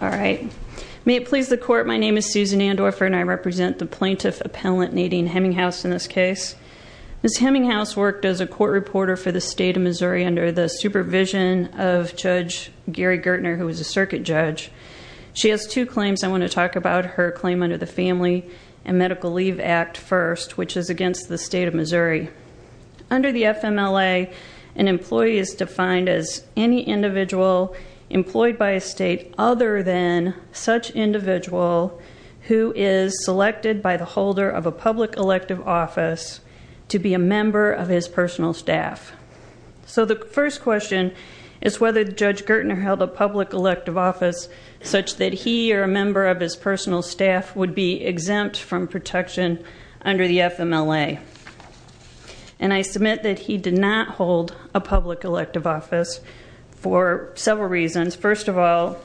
All right. May it please the court, my name is Susan Andorfer and I represent the plaintiff appellant Nadine Hemminghaus in this case. Ms. Hemminghaus worked as a court reporter for the State of Missouri under the supervision of Judge Gary Gertner, who was a circuit judge. She has two claims I want to talk about. Her claim under the Family and Medical Leave Act first, which is against the State of Missouri. Under the FMLA, an employee is defined as any individual employed by a state other than such individual who is selected by the holder of a public elective office to be a member of his personal staff. So the first question is whether Judge Gertner held a public elective office such that he or a member of his personal staff would be exempt from protection under the FMLA. And I submit that he did not hold a public elective office for several reasons. First of all,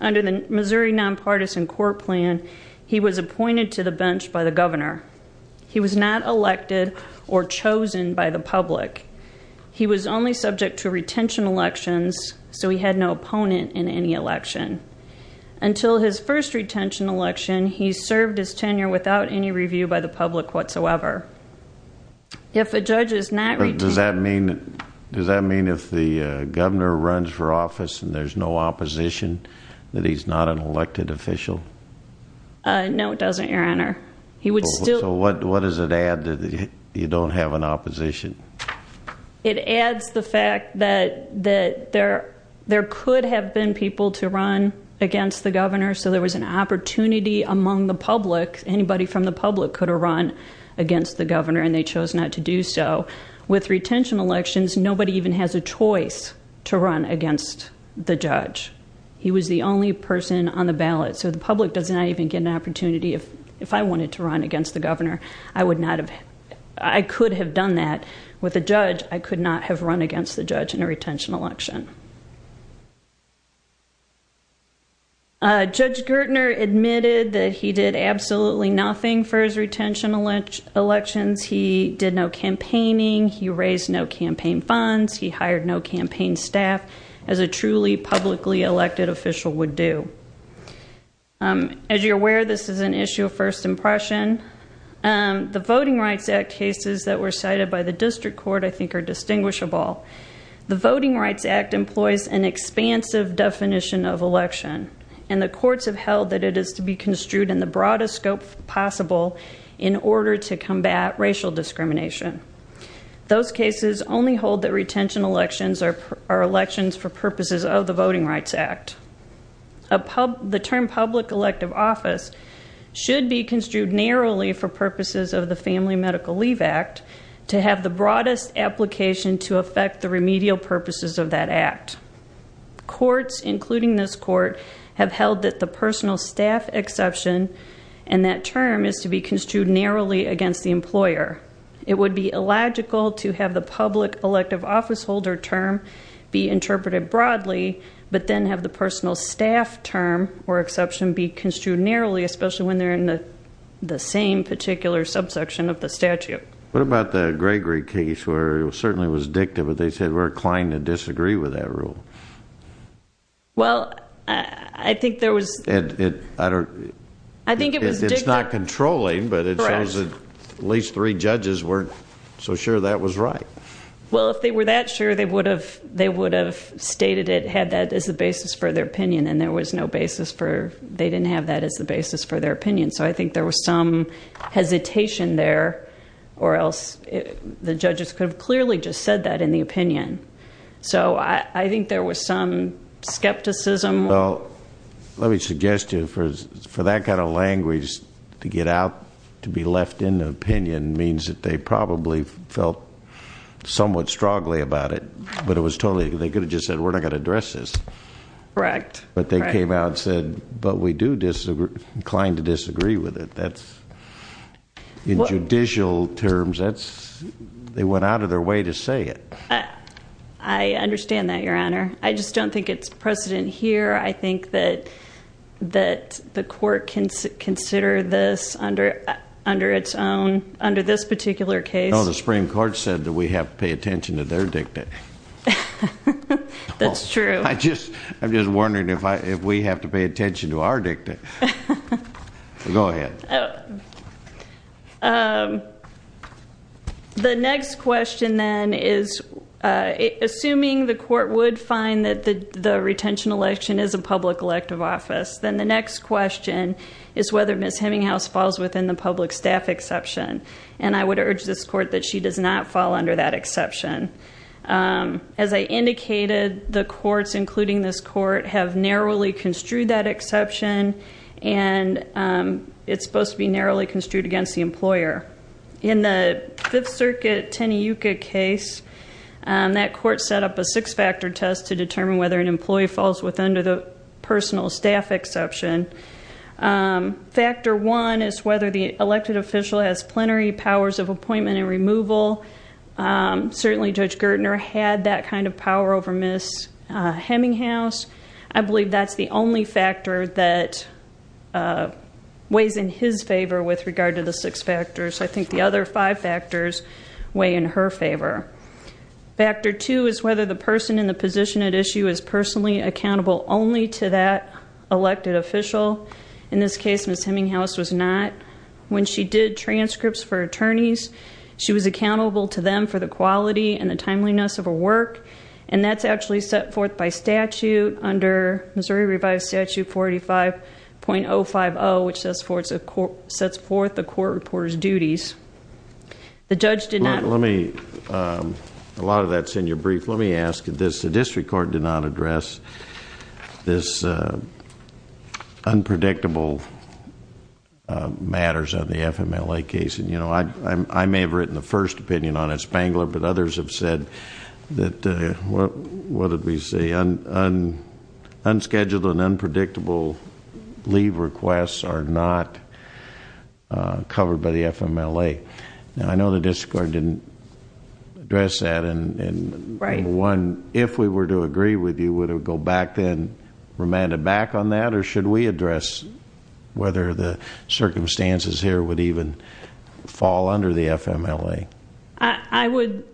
under the Missouri Nonpartisan Court Plan, he was appointed to the bench by the governor. He was not elected or chosen by the public. He was only subject to retention elections, so he had no opponent in any election. Until his first retention election, he served his tenure without any review by the public whatsoever. If a judge is not... Does that mean, does that mean if he has no office and there's no opposition, that he's not an elected official? No, it doesn't, Your Honor. He would still... So what does it add that you don't have an opposition? It adds the fact that there could have been people to run against the governor, so there was an opportunity among the public, anybody from the public could have run against the governor, and they chose not to do so. With retention elections, nobody even has a choice to run against the judge. He was the only person on the ballot, so the public does not even get an opportunity. If I wanted to run against the governor, I would not have... I could have done that. With a judge, I could not have run against the judge in a retention election. Judge Gertner admitted that he did absolutely nothing for his retention elections. He did no campaigning. He raised no campaign funds. He hired no campaign staff as a truly publicly elected official would do. As you're aware, this is an issue of first impression. The Voting Rights Act cases that were cited by the district court, I think, are distinguishable. The Voting Rights Act employs an expansive definition of election, and the courts have held that it is to be construed in the broadest scope possible in order to combat racial discrimination. Those cases only hold that retention elections are elections for purposes of the Voting Rights Act. The term public elective office should be construed narrowly for purposes of the Family Medical Leave Act to have the broadest application to affect the remedial purposes of that Act. Courts, including this court, have held that the personal staff exception in that term is to be construed narrowly against the employer. It would be illogical to have the public elective office holder term be interpreted broadly, but then have the personal staff term or exception be construed narrowly, especially when they're in the same particular subsection of the statute. What about the Gregory case, where it certainly was dicta, but they said we're inclined to disagree with that rule? Well, I think there was... It's not controlling, but it says that at least three judges weren't so sure that was right. Well, if they were that sure, they would have stated it, had that as the basis for their opinion, and there was no basis for... They didn't have that as the basis for their opinion, so I think there was some hesitation there, or else the judges could have clearly just said that in the opinion. So, I think there was some skepticism. Well, let me suggest to you, for that kind of language to get out, to be left in the opinion, means that they probably felt somewhat strongly about it, but it was totally... They could have just said, we're not going to address this. Correct. But they came out and said, but we do disagree, inclined to disagree with it. That's... In judicial terms, that's... They went out of their way to say it. I understand that, Your Honor. I just don't think it's precedent here. I think that the court can consider this under its own... Under this particular case. No, the Supreme Court said that we have to pay attention to their dicta. That's true. I just... I'm just wondering if we have to pay attention to our dicta. Go ahead. The next question, then, is assuming the court would find that the retention election is a public elective office, then the next question is whether Ms. Heminghouse falls within the public staff exception. And I would urge this court that she does not fall under that exception. As I indicated, the courts, including this court, have narrowly construed that exception, and it's supposed to be narrowly construed against the employer. In the Fifth Circuit Teneyuka case, that court set up a six-factor test to determine whether an employee falls within the personal staff exception. Factor one is whether the elected official has plenary powers of appointment and removal. Certainly, Judge Gertner had that kind of power over Ms. Heminghouse. I believe that's the only factor that weighs in his favor with regard to the six factors. I think the other five factors weigh in her favor. Factor two is whether the person in the position at issue is personally accountable only to that elected official. In this case, Ms. Heminghouse was not. When she did transcripts for attorneys, she was accountable to them for the quality and the timeliness of her work, and that's actually set forth by statute under Missouri Revised Statute 45.050, which sets forth the court reporter's duties. The judge did not... Let me... a lot of that's in your brief. Let me ask this. The district court did not address this unpredictable matters of the FMLA case, and you know, I may have written the first opinion on it, Spangler, but others have said that... what did covered by the FMLA. Now, I know the district court didn't address that, and one, if we were to agree with you, would it go back then, remanded back on that, or should we address whether the circumstances here would even fall under the FMLA? I would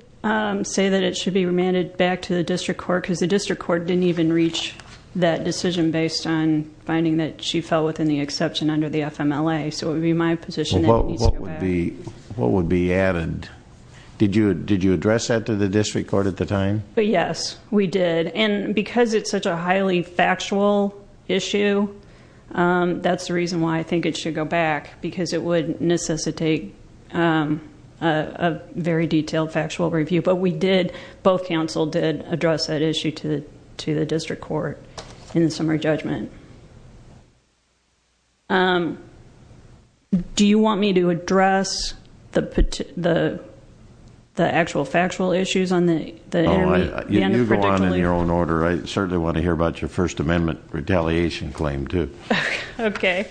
say that it should be remanded back to the district court because the district court didn't even reach that decision based on finding that she fell within the exception under the FMLA, so it would be my position that it needs to go back. What would be added? Did you address that to the district court at the time? Yes, we did, and because it's such a highly factual issue, that's the reason why I think it should go back, because it would necessitate a very detailed factual review, but we did... both counsel did address that issue to the district court in the summary judgment. Do you want me to address the actual factual issues on the... No, you go on in your own order. I certainly want to hear about your First Amendment retaliation claim, too. Okay,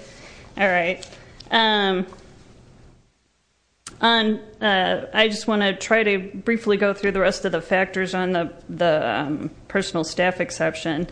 all right. I just want to try to briefly go through the rest of the factors on the personal staff exception.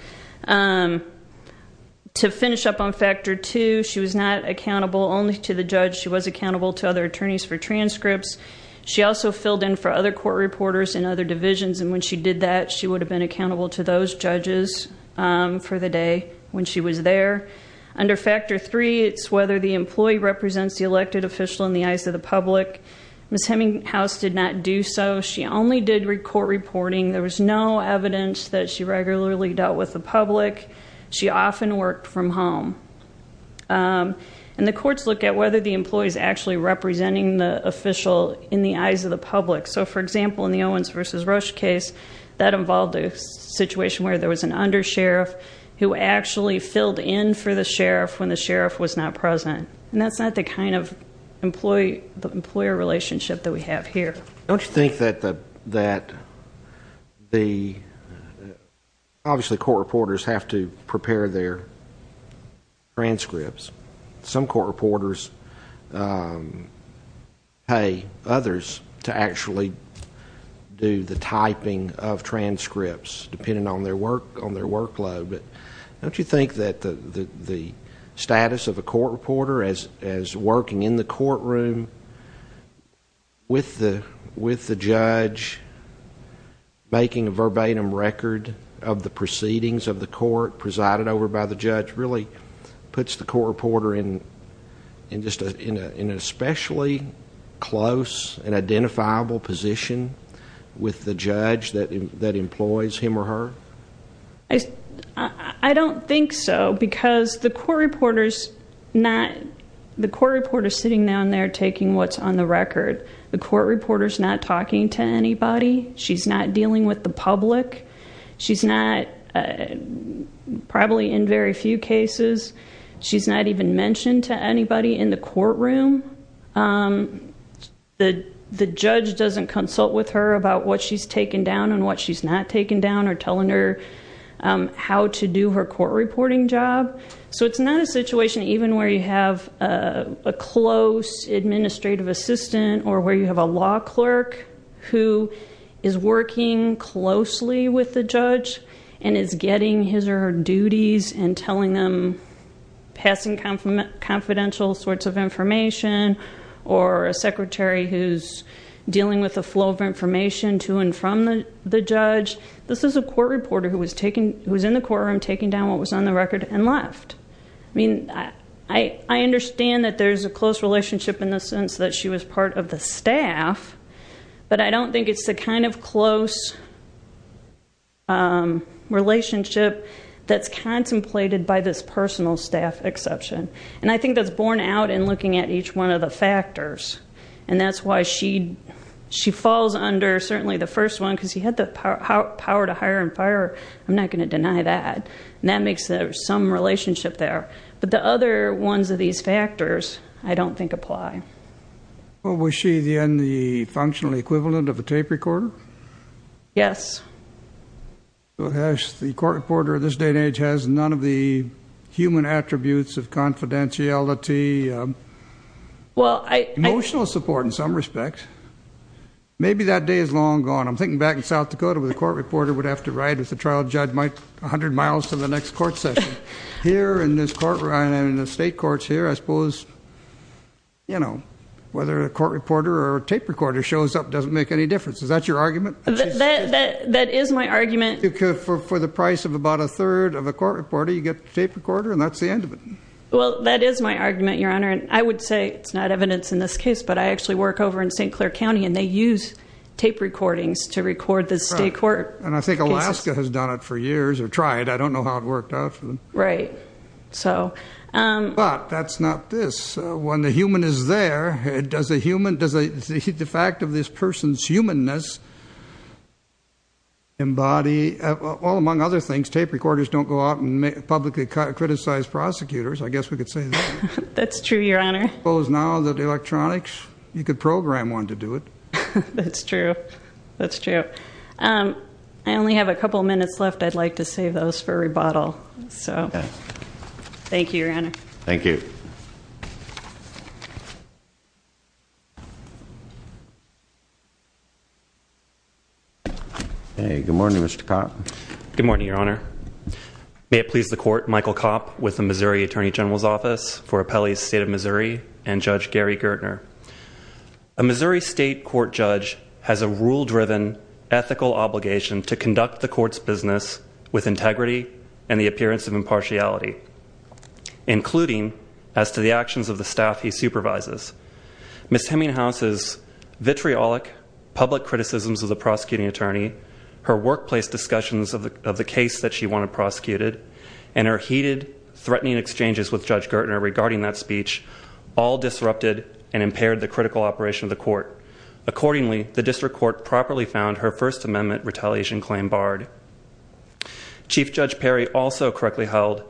To finish up on Factor 2, she was not accountable only to the judge. She was accountable to other attorneys for transcripts. She also filled in for other court reporters in other divisions, and when she did that, she would have been accountable to those judges for the day when she was there. Under Factor 3, it's whether the employee represents the elected official in the eyes of the public. Ms. Heminghouse did not do so. She only did court reporting. There was no evidence that she regularly dealt with the public. She often worked from home, and the courts look at whether the employee is actually representing the official in the eyes of the public. So, for example, in the Owens versus Rush case, that involved a situation where there was an undersheriff who actually filled in for the sheriff when the sheriff was not present, and that's not the kind of employer relationship that we have here. Don't you think that the... Obviously, court reporters have to prepare their transcripts. Some court reporters pay others to actually do the typing of transcripts, depending on their workload, but don't you think that the status of a court reporter as working in the courtroom with the judge making a verbatim record of the proceedings of the court presided over by the judge really puts the court reporter in an especially close and identifiable position with the judge that employs him or her? I don't think so, because the court reporter's sitting down there taking what's on the record. The court reporter's not talking to anybody. She's not dealing with the public. She's not, probably in very few cases, she's not even mentioned to anybody in the courtroom. The judge doesn't consult with her about what she's taking down and what she's not taking down or telling her how to do her court reporting job, so it's not a situation even where you have a close administrative assistant or where you have a law clerk who is working closely with the judge and is getting his or her duties and telling them, passing confidential sorts of information, or a secretary who's passing the flow of information to and from the judge. This is a court reporter who was in the courtroom taking down what was on the record and left. I mean, I understand that there's a close relationship in the sense that she was part of the staff, but I don't think it's the kind of close relationship that's contemplated by this personal staff exception, and I think that's borne out in looking at each one of the factors, and that's why she falls under certainly the first one, because he had the power to hire and fire. I'm not going to deny that, and that makes there some relationship there, but the other ones of these factors I don't think apply. Well, was she then the functional equivalent of a tape recorder? Yes. The court reporter of this day and age has none of the human attributes of confidentiality, emotional support in some respect. Maybe that day is long gone. I'm thinking back in South Dakota where the court reporter would have to ride with the trial judge a hundred miles to the next court session. Here in this court, and in the state courts here, I suppose, you know, whether a court reporter or a tape recorder shows up doesn't make any difference. Is that your argument? That is my argument. For the price of about a third of a court reporter, you get a tape recorder, and that's the end of it. Well, that is my argument, your honor, and I would say it's not evidence in this case, but I actually work over in St. Clair County and they use tape recordings to record the state court. And I think Alaska has done it for years, or tried, I don't know how it worked out for them. Right, so. But that's not this. When the human is there, does a human, does the fact of this person's humanness embody, well among other things, tape recorders don't go out and publicly criticize prosecutors. I guess we could say that. That's true, your honor. Well, is now that electronics, you could program one to do it. That's true. That's true. I only have a couple minutes left. I'd like to save those for rebuttal. So, thank you, your honor. Thank you. Hey, good morning, Mr. Kopp. Good morning, your honor. May it please the court, Michael Kopp with the Missouri Attorney General's Office for Appellees State of Missouri and Judge Gary Gertner. A Missouri State Court judge has a rule driven ethical obligation to conduct the court's business with integrity and the appearance of impartiality, including as to the actions of the staff he public criticisms of the prosecuting attorney, her workplace discussions of the case that she wanted prosecuted, and her heated threatening exchanges with Judge Gertner regarding that speech, all disrupted and impaired the critical operation of the court. Accordingly, the district court properly found her First Amendment retaliation claim barred. Chief Judge Perry also correctly held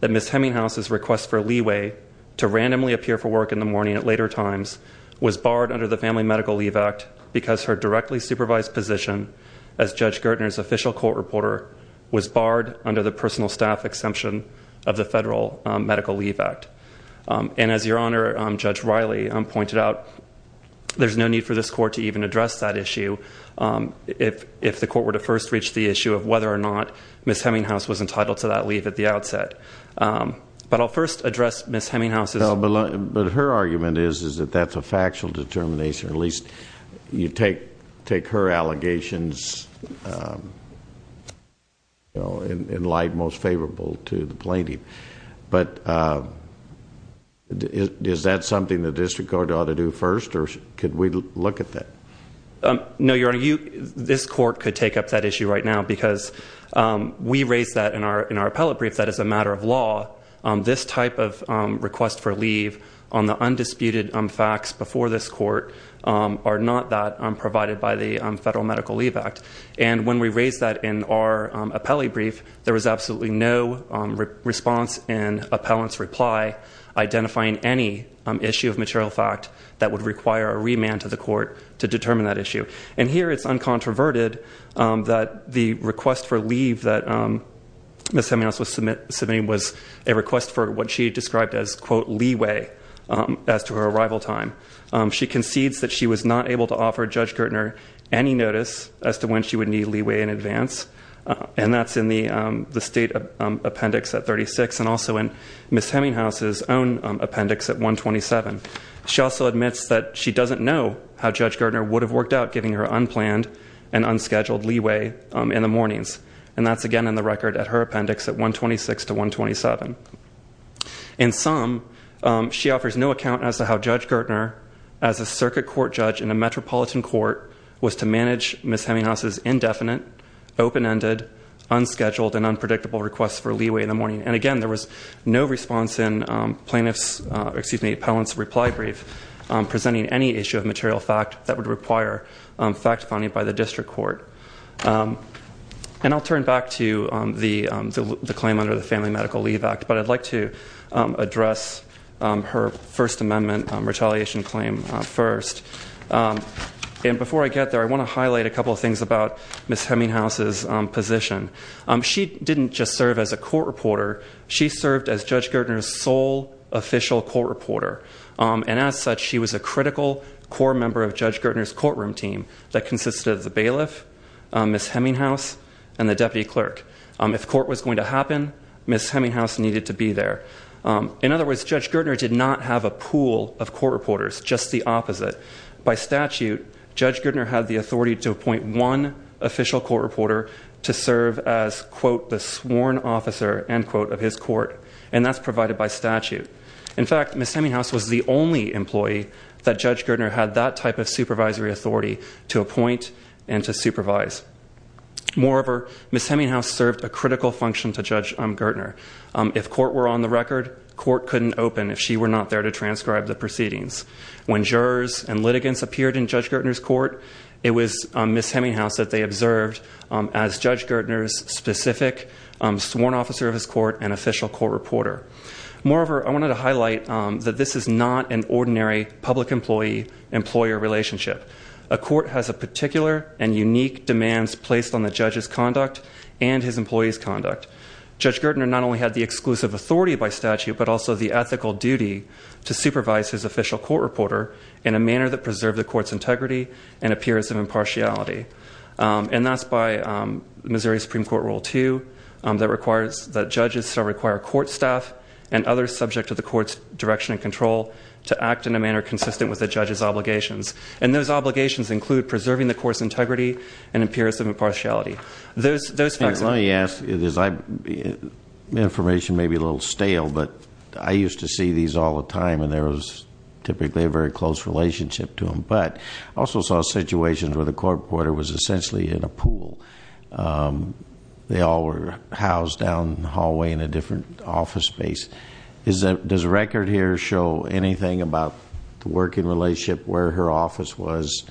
that Ms. Hemminghouse's request for leeway to randomly appear for work in the morning at later times was barred under the Family Medical Leave Act because her directly supervised position as Judge Gertner's official court reporter was barred under the personal staff exemption of the Federal Medical Leave Act. And as your honor, Judge Riley pointed out, there's no need for this court to even address that issue if the court were to first reach the issue of whether or not Ms. Hemminghouse was entitled to that leave at the outset. But I'll first address Ms. Hemminghouse's... But her argument is that that's a factual determination, or at least you take her allegations in light most favorable to the plaintiff. But is that something the district court ought to do first, or could we look at that? No, your honor. This court could take up that issue right now because we raised that in our in our appellate brief that as a matter of law, this type of request for leave on the undisputed facts before this court are not that provided by the Federal Medical Leave Act. And when we raised that in our appellate brief, there was absolutely no response in appellant's reply identifying any issue of material fact that would require a remand to the court to determine that issue. And here it's uncontroverted that the request for leave that Ms. Hemminghouse was submitting was a request for what she described as quote, leeway as to her arrival time. She concedes that she was not able to offer Judge Gertner any notice as to when she would need leeway in advance. And that's in the state appendix at 36 and also in Ms. Hemminghouse's own appendix at 127. She also admits that she doesn't know how Judge Gertner would have worked out giving her unplanned and unscheduled leeway in the mornings. And that's again in the record at her appendix at 126 to 127. In sum, she offers no account as to how Judge Gertner as a circuit court judge in a metropolitan court was to manage Ms. Hemminghouse's indefinite, open-ended, unscheduled, and unpredictable requests for leeway in the morning. And again, there was no response in plaintiff's, excuse me, appellant's reply brief presenting any issue of material fact that would require fact finding by the And I'll turn back to the claim under the Family Medical Leave Act, but I'd like to address her First Amendment retaliation claim first. And before I get there, I want to highlight a couple of things about Ms. Hemminghouse's position. She didn't just serve as a court reporter, she served as Judge Gertner's sole official court reporter. And as such, she was a critical core member of Judge Gertner's courtroom team that consisted of the bailiff, Ms. Hemminghouse, and the deputy clerk. If court was going to happen, Ms. Hemminghouse needed to be there. In other words, Judge Gertner did not have a pool of court reporters, just the opposite. By statute, Judge Gertner had the authority to appoint one official court reporter to serve as, quote, the sworn officer, end quote, of his court. And that's provided by statute. In fact, Ms. Hemminghouse was the only employee that Judge Gertner had that type of supervisory authority to appoint and to supervise. Moreover, Ms. Hemminghouse served a critical function to Judge Gertner. If court were on the record, court couldn't open if she were not there to transcribe the proceedings. When jurors and litigants appeared in Judge Gertner's court, it was Ms. Hemminghouse that they observed as Judge Gertner's specific sworn officer of his court and official court reporter. Moreover, I wanted to highlight that this is not an ordinary public employee, employer relationship. A court has a particular and unique demands placed on the judge's conduct and his employee's conduct. Judge Gertner not only had the exclusive authority by statute, but also the ethical duty to supervise his official court reporter in a manner that preserved the court's integrity and appearance of impartiality. And that's by Missouri Supreme Court Rule 2, that judges shall require court staff and other subject to the court's direction and control to act in a manner consistent with the judge's obligations. And those obligations include preserving the court's integrity and appearance of impartiality. Those facts- Let me ask, information may be a little stale, but I used to see these all the time and there was typically a very close relationship to them, but I also saw situations where the court reporter was essentially in a pool. They all were housed down the hallway in a different office space. Does the record here show anything about the working relationship where her office was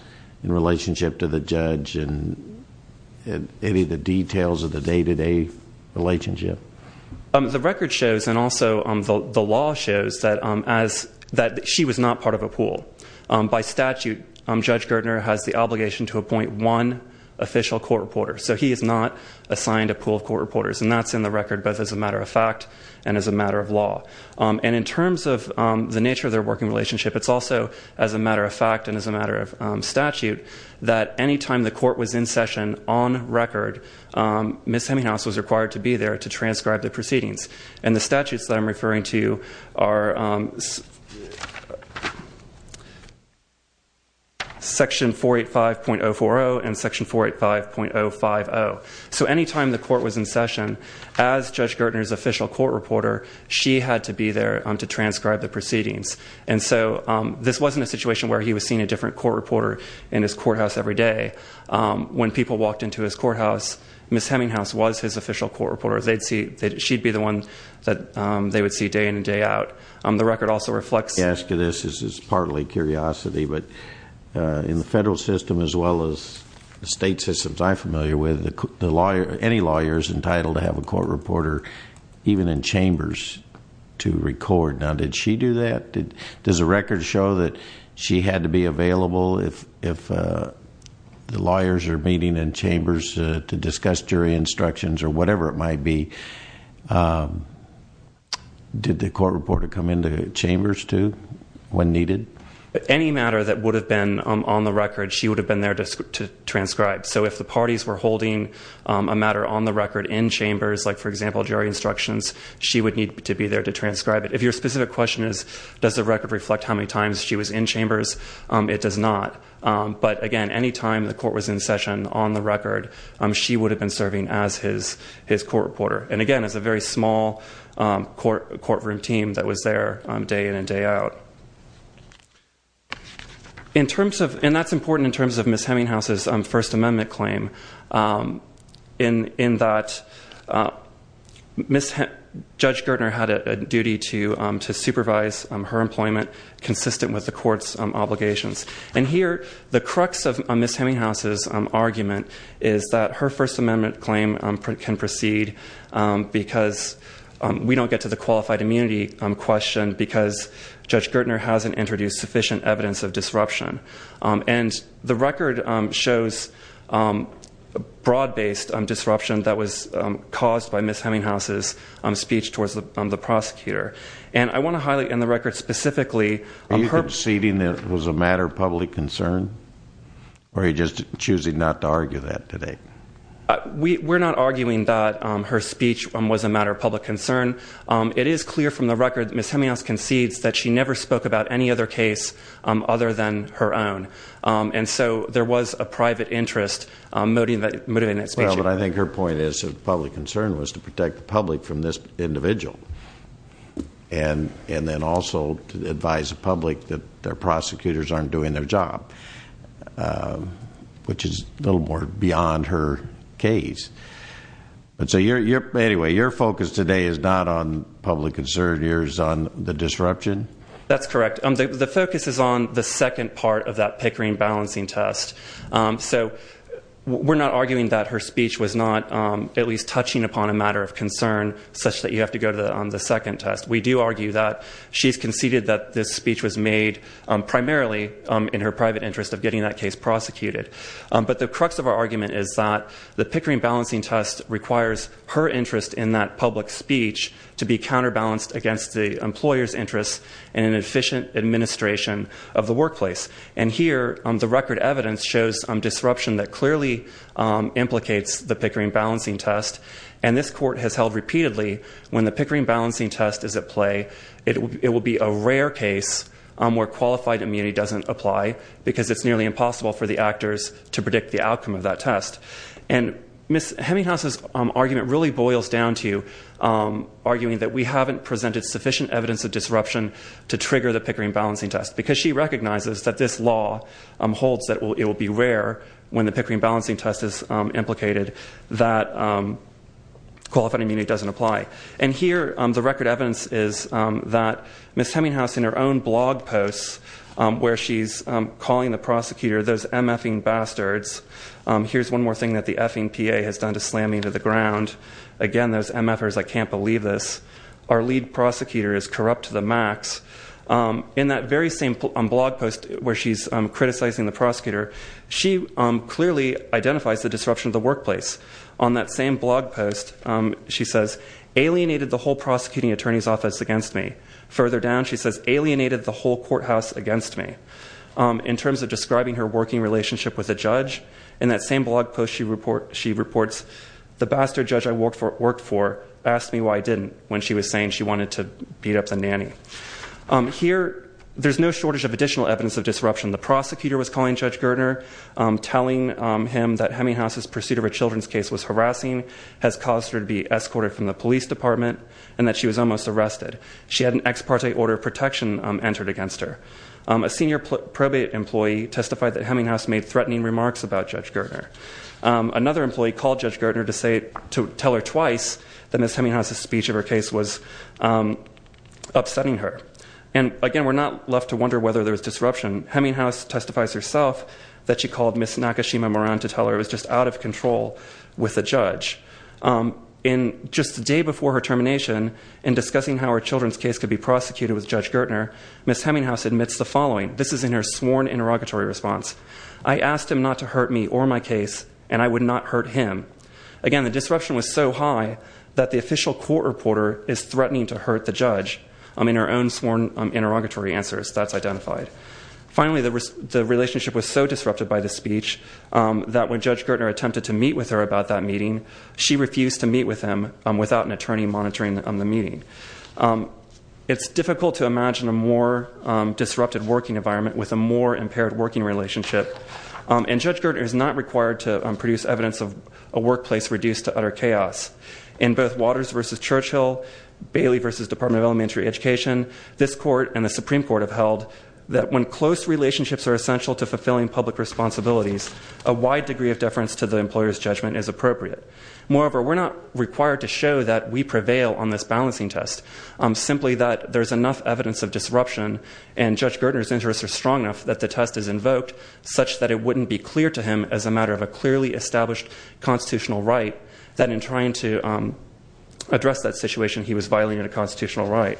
in relationship to the judge and any of the details of the day-to-day relationship? The record shows and also the law shows that she was not part of a pool. By statute, Judge Gertner has the obligation to appoint one official court reporter. So he is not assigned a pool of court reporters. And that's in the record both as a matter of fact and as a matter of law. And in terms of the nature of their working relationship, it's also as a matter of fact and as a matter of statute that any time the court was in session on record, Ms. Heminghouse was required to be there to transcribe the proceedings. And the statutes that I'm referring to are section 485.040 and section 485.050. So any time the court was in session, as Judge Gertner's official court reporter, she had to be there to transcribe the proceedings. And so this wasn't a situation where he was seeing a different court reporter in his courthouse every day. When people walked into his courthouse, Ms. Heminghouse was his official court reporter. She'd be the one that they would see day in and day out. The record also reflects- I ask you this, this is partly curiosity, but in the federal system as well as the state systems I'm familiar with, any lawyer is entitled to have a court reporter, even in chambers, to record. Now did she do that? Does the record show that she had to be available if the lawyers are meeting in chambers to discuss jury instructions or whatever it might be? Did the court reporter come into chambers, too, when needed? Any matter that would have been on the record, she would have been there to transcribe. So if the parties were holding a matter on the record in chambers, like for example, jury instructions, she would need to be there to transcribe it. If your specific question is, does the record reflect how many times she was in chambers, it does not. But again, any time the court was in session on the record, she would have been serving as his court reporter. And again, it's a very small courtroom team that was there day in and day out. And that's important in terms of Ms. Hemminghouse's First Amendment claim. In that, Judge Gertner had a duty to supervise her employment consistent with the court's obligations. And here, the crux of Ms. Hemminghouse's argument is that her First Amendment claim can proceed because we don't get to the qualified immunity question because Judge Gertner hasn't introduced sufficient evidence of disruption. And the record shows broad-based disruption that was caused by Ms. Hemminghouse's speech towards the prosecutor. And I want to highlight in the record specifically- Are you conceding that it was a matter of public concern, or are you just choosing not to argue that today? We're not arguing that her speech was a matter of public concern. It is clear from the record that Ms. Hemminghouse concedes that she never spoke about any other case other than her own. And so, there was a private interest motivated in that speech. Well, but I think her point is of public concern was to protect the public from this individual. And then also to advise the public that their prosecutors aren't doing their job. Which is a little more beyond her case. But so, anyway, your focus today is not on public concern, yours is on the disruption? That's correct. The focus is on the second part of that Pickering balancing test. So, we're not arguing that her speech was not at least touching upon a matter of concern, such that you have to go to the second test. We do argue that she's conceded that this speech was made primarily in her private interest of getting that case prosecuted. But the crux of our argument is that the Pickering balancing test requires her interest in that public speech to be counterbalanced against the employer's interest in an efficient administration of the workplace. And here, the record evidence shows disruption that clearly implicates the Pickering balancing test. And this court has held repeatedly, when the Pickering balancing test is at play, it will be a rare case where qualified immunity doesn't apply. Because it's nearly impossible for the actors to predict the outcome of that test. And Ms. Heminghouse's argument really boils down to arguing that we haven't presented sufficient evidence of disruption to trigger the Pickering balancing test. Because she recognizes that this law holds that it will be rare when the Pickering balancing test is implicated. That qualified immunity doesn't apply. And here, the record evidence is that Ms. Heminghouse in her own blog post, where she's calling the prosecutor, those MF-ing bastards. Here's one more thing that the F-ing PA has done to slam me to the ground. Again, those MF-ers, I can't believe this. Our lead prosecutor is corrupt to the max. In that very same blog post where she's criticizing the prosecutor, she clearly identifies the disruption of the workplace. On that same blog post, she says, alienated the whole prosecuting attorney's office against me. Further down, she says, alienated the whole courthouse against me. In terms of describing her working relationship with a judge, in that same blog post she reports, the bastard judge I worked for asked me why I didn't when she was saying she wanted to beat up the nanny. The prosecutor was calling Judge Gertner, telling him that Heminghouse's pursuit of a children's case was harassing, has caused her to be escorted from the police department, and that she was almost arrested. She had an ex parte order of protection entered against her. A senior probate employee testified that Heminghouse made threatening remarks about Judge Gertner. Another employee called Judge Gertner to tell her twice that Ms. Heminghouse's speech of her case was upsetting her. And again, we're not left to wonder whether there was disruption. Heminghouse testifies herself that she called Ms. Nakashima Moran to tell her it was just out of control with the judge. In just the day before her termination, in discussing how her children's case could be prosecuted with Judge Gertner, Ms. Heminghouse admits the following. This is in her sworn interrogatory response. I asked him not to hurt me or my case, and I would not hurt him. Again, the disruption was so high that the official court reporter is threatening to hurt the judge. In her own sworn interrogatory answers, that's identified. Finally, the relationship was so disrupted by the speech that when Judge Gertner attempted to meet with her about that meeting, she refused to meet with him without an attorney monitoring the meeting. It's difficult to imagine a more disrupted working environment with a more impaired working relationship. And Judge Gertner is not required to produce evidence of a workplace reduced to utter chaos. In both Waters versus Churchill, Bailey versus Department of Elementary Education, this court and the Supreme Court have held that when close relationships are essential to fulfilling public responsibilities, a wide degree of deference to the employer's judgment is appropriate. Moreover, we're not required to show that we prevail on this balancing test. Simply that there's enough evidence of disruption, and Judge Gertner's interests are strong enough that the test is invoked, such that it wouldn't be clear to him as a matter of a clearly established constitutional right, that in trying to address that situation, he was violating a constitutional right.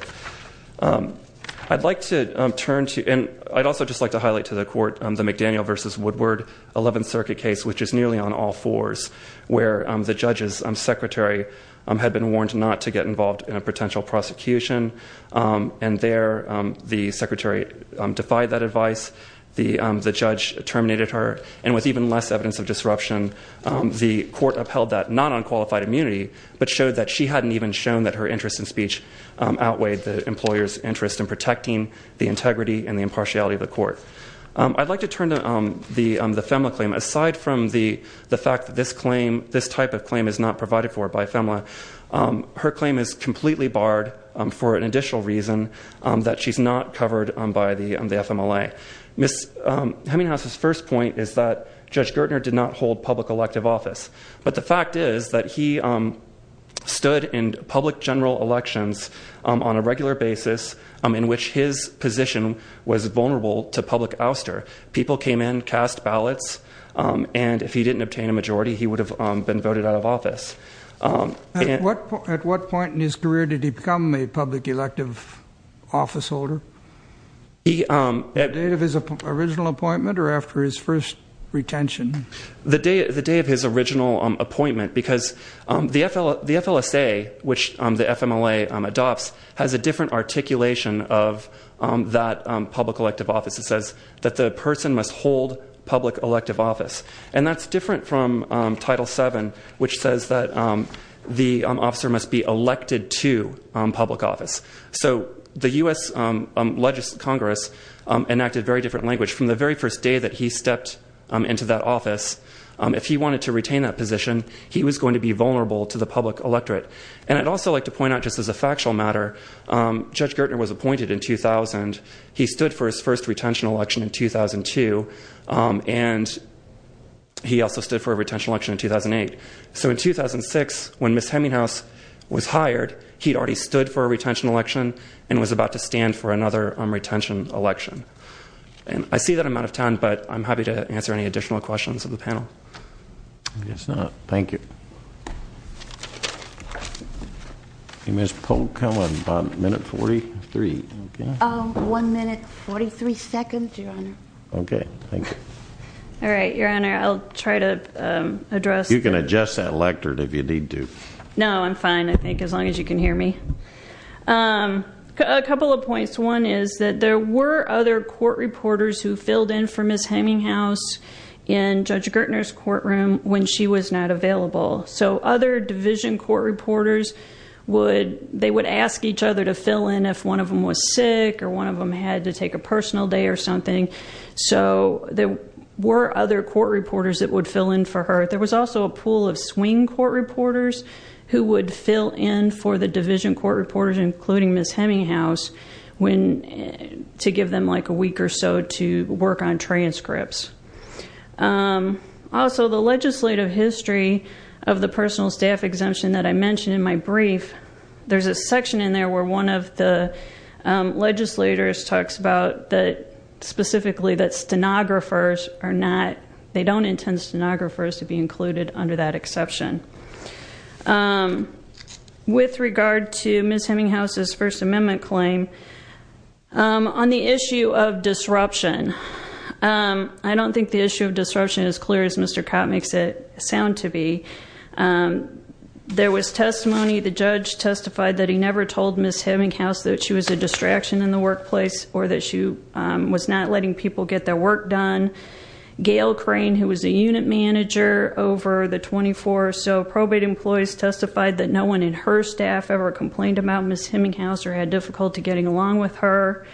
I'd like to turn to, and I'd also just like to highlight to the court, the McDaniel versus Woodward 11th Circuit case, which is nearly on all fours, where the judge's secretary had been warned not to get involved in a potential prosecution. And there, the secretary defied that advice, the judge terminated her. And with even less evidence of disruption, the court upheld that, not on qualified immunity, but showed that she hadn't even shown that her interest in speech outweighed the employer's interest in protecting the integrity and the impartiality of the court. I'd like to turn to the FEMLA claim. Aside from the fact that this type of claim is not provided for by FEMLA, her claim is completely barred for an additional reason that she's not covered by the FMLA. Ms. Heminghouse's first point is that Judge Gertner did not hold public elective office. But the fact is that he stood in public general elections on a regular basis in which his position was vulnerable to public ouster. People came in, cast ballots, and if he didn't obtain a majority, he would have been voted out of office. At what point in his career did he become a public elective office holder? The day of his original appointment or after his first retention? The day of his original appointment, because the FLSA, which the FMLA adopts, has a different articulation of that public elective office. It says that the person must hold public elective office. And that's different from Title VII, which says that the officer must be elected to public office. So the US Congress enacted very different language. From the very first day that he stepped into that office, if he wanted to retain that position, he was going to be vulnerable to the public electorate. And I'd also like to point out, just as a factual matter, Judge Gertner was appointed in 2000. And he stood for his first retention election in 2002, and he also stood for a retention election in 2008. So in 2006, when Ms. Hemminghaus was hired, he'd already stood for a retention election and was about to stand for another retention election. And I see that I'm out of time, but I'm happy to answer any additional questions of the panel. I guess not. Thank you. Ms. Polk, how about minute 43? One minute 43 seconds, Your Honor. Okay, thank you. All right, Your Honor, I'll try to address- You can adjust that electorate if you need to. No, I'm fine, I think, as long as you can hear me. A couple of points. One is that there were other court reporters who filled in for Ms. Hemminghaus in Judge Gertner's courtroom when she was not available. So other division court reporters, they would ask each other to fill in if one of them was sick or one of them had to take a personal day or something, so there were other court reporters that would fill in for her. There was also a pool of swing court reporters who would fill in for the division court reporters, including Ms. Hemminghaus, to give them a week or so to work on transcripts. Also, the legislative history of the personal staff exemption that I mentioned in my brief, there's a section in there where one of the legislators talks about that, specifically that stenographers are not, they don't intend stenographers to be included under that exception. With regard to Ms. Hemminghaus' First Amendment claim, on the issue of disruption, I don't think the issue of disruption is as clear as Mr. Kopp makes it sound to be. There was testimony, the judge testified that he never told Ms. Hemminghaus that she was a distraction in the workplace or that she was not letting people get their work done. Gail Crane, who was the unit manager over the 24 or so probate employees, testified that no one in her staff ever complained about Ms. Hemminghaus or had difficulty getting along with her.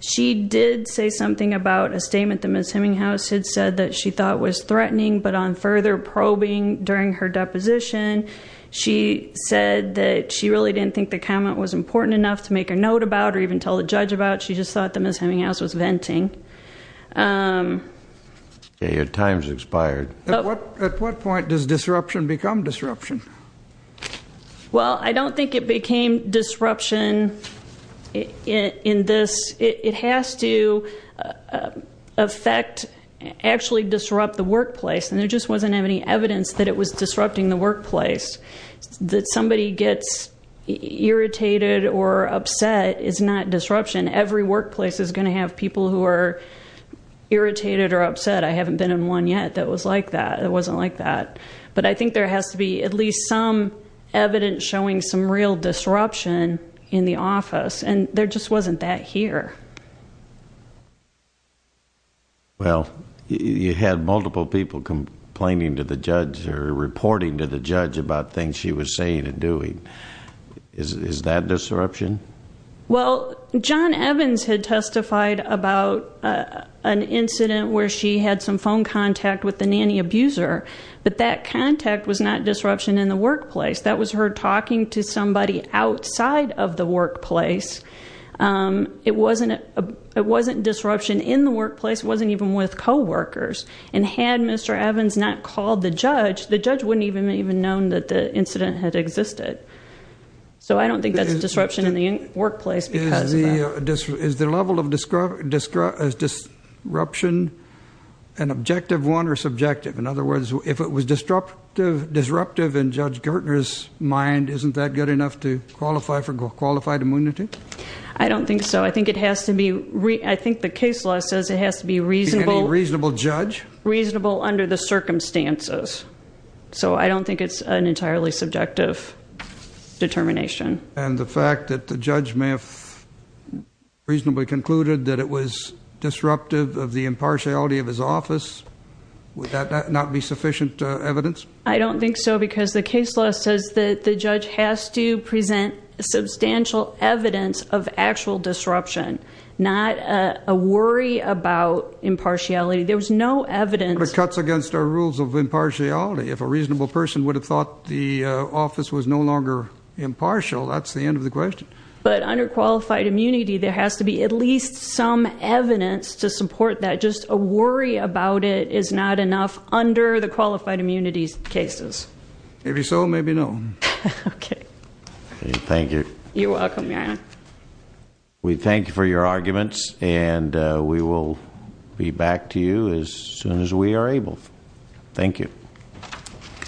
She did say something about a statement that Ms. Hemminghaus had said that she thought was threatening, but on further probing during her deposition, she said that she really didn't think the comment was important enough to make a note about or even tell the judge about, she just thought that Ms. Hemminghaus was venting. Okay, your time's expired. At what point does disruption become disruption? Well, I don't think it became disruption in this. It has to affect, actually disrupt the workplace. And there just wasn't any evidence that it was disrupting the workplace. That somebody gets irritated or upset is not disruption. Every workplace is going to have people who are irritated or upset. I haven't been in one yet that was like that, that wasn't like that. But I think there has to be at least some evidence showing some real disruption in the office. And there just wasn't that here. Well, you had multiple people complaining to the judge or reporting to the judge about things she was saying and doing, is that disruption? Well, John Evans had testified about an incident where she had some phone contact with the nanny abuser. But that contact was not disruption in the workplace. That was her talking to somebody outside of the workplace. It wasn't disruption in the workplace, it wasn't even with co-workers. And had Mr. Evans not called the judge, the judge wouldn't have even known that the incident had existed. So I don't think that's disruption in the workplace because of that. Is the level of disruption an objective one or subjective? In other words, if it was disruptive in Judge Gertner's mind, isn't that good enough to qualify for qualified immunity? I don't think so. I think the case law says it has to be reasonable- A reasonable judge? Reasonable under the circumstances. So I don't think it's an entirely subjective determination. And the fact that the judge may have reasonably concluded that it was disruptive of the impartiality of his office. Would that not be sufficient evidence? I don't think so because the case law says that the judge has to present substantial evidence of actual disruption. Not a worry about impartiality. There was no evidence- But it cuts against our rules of impartiality. If a reasonable person would have thought the office was no longer impartial, that's the end of the question. But under qualified immunity, there has to be at least some evidence to support that. But just a worry about it is not enough under the qualified immunities cases. Maybe so, maybe no. Okay. Thank you. You're welcome, Your Honor. We thank you for your arguments and we will be back to you as soon as we are able. Thank you.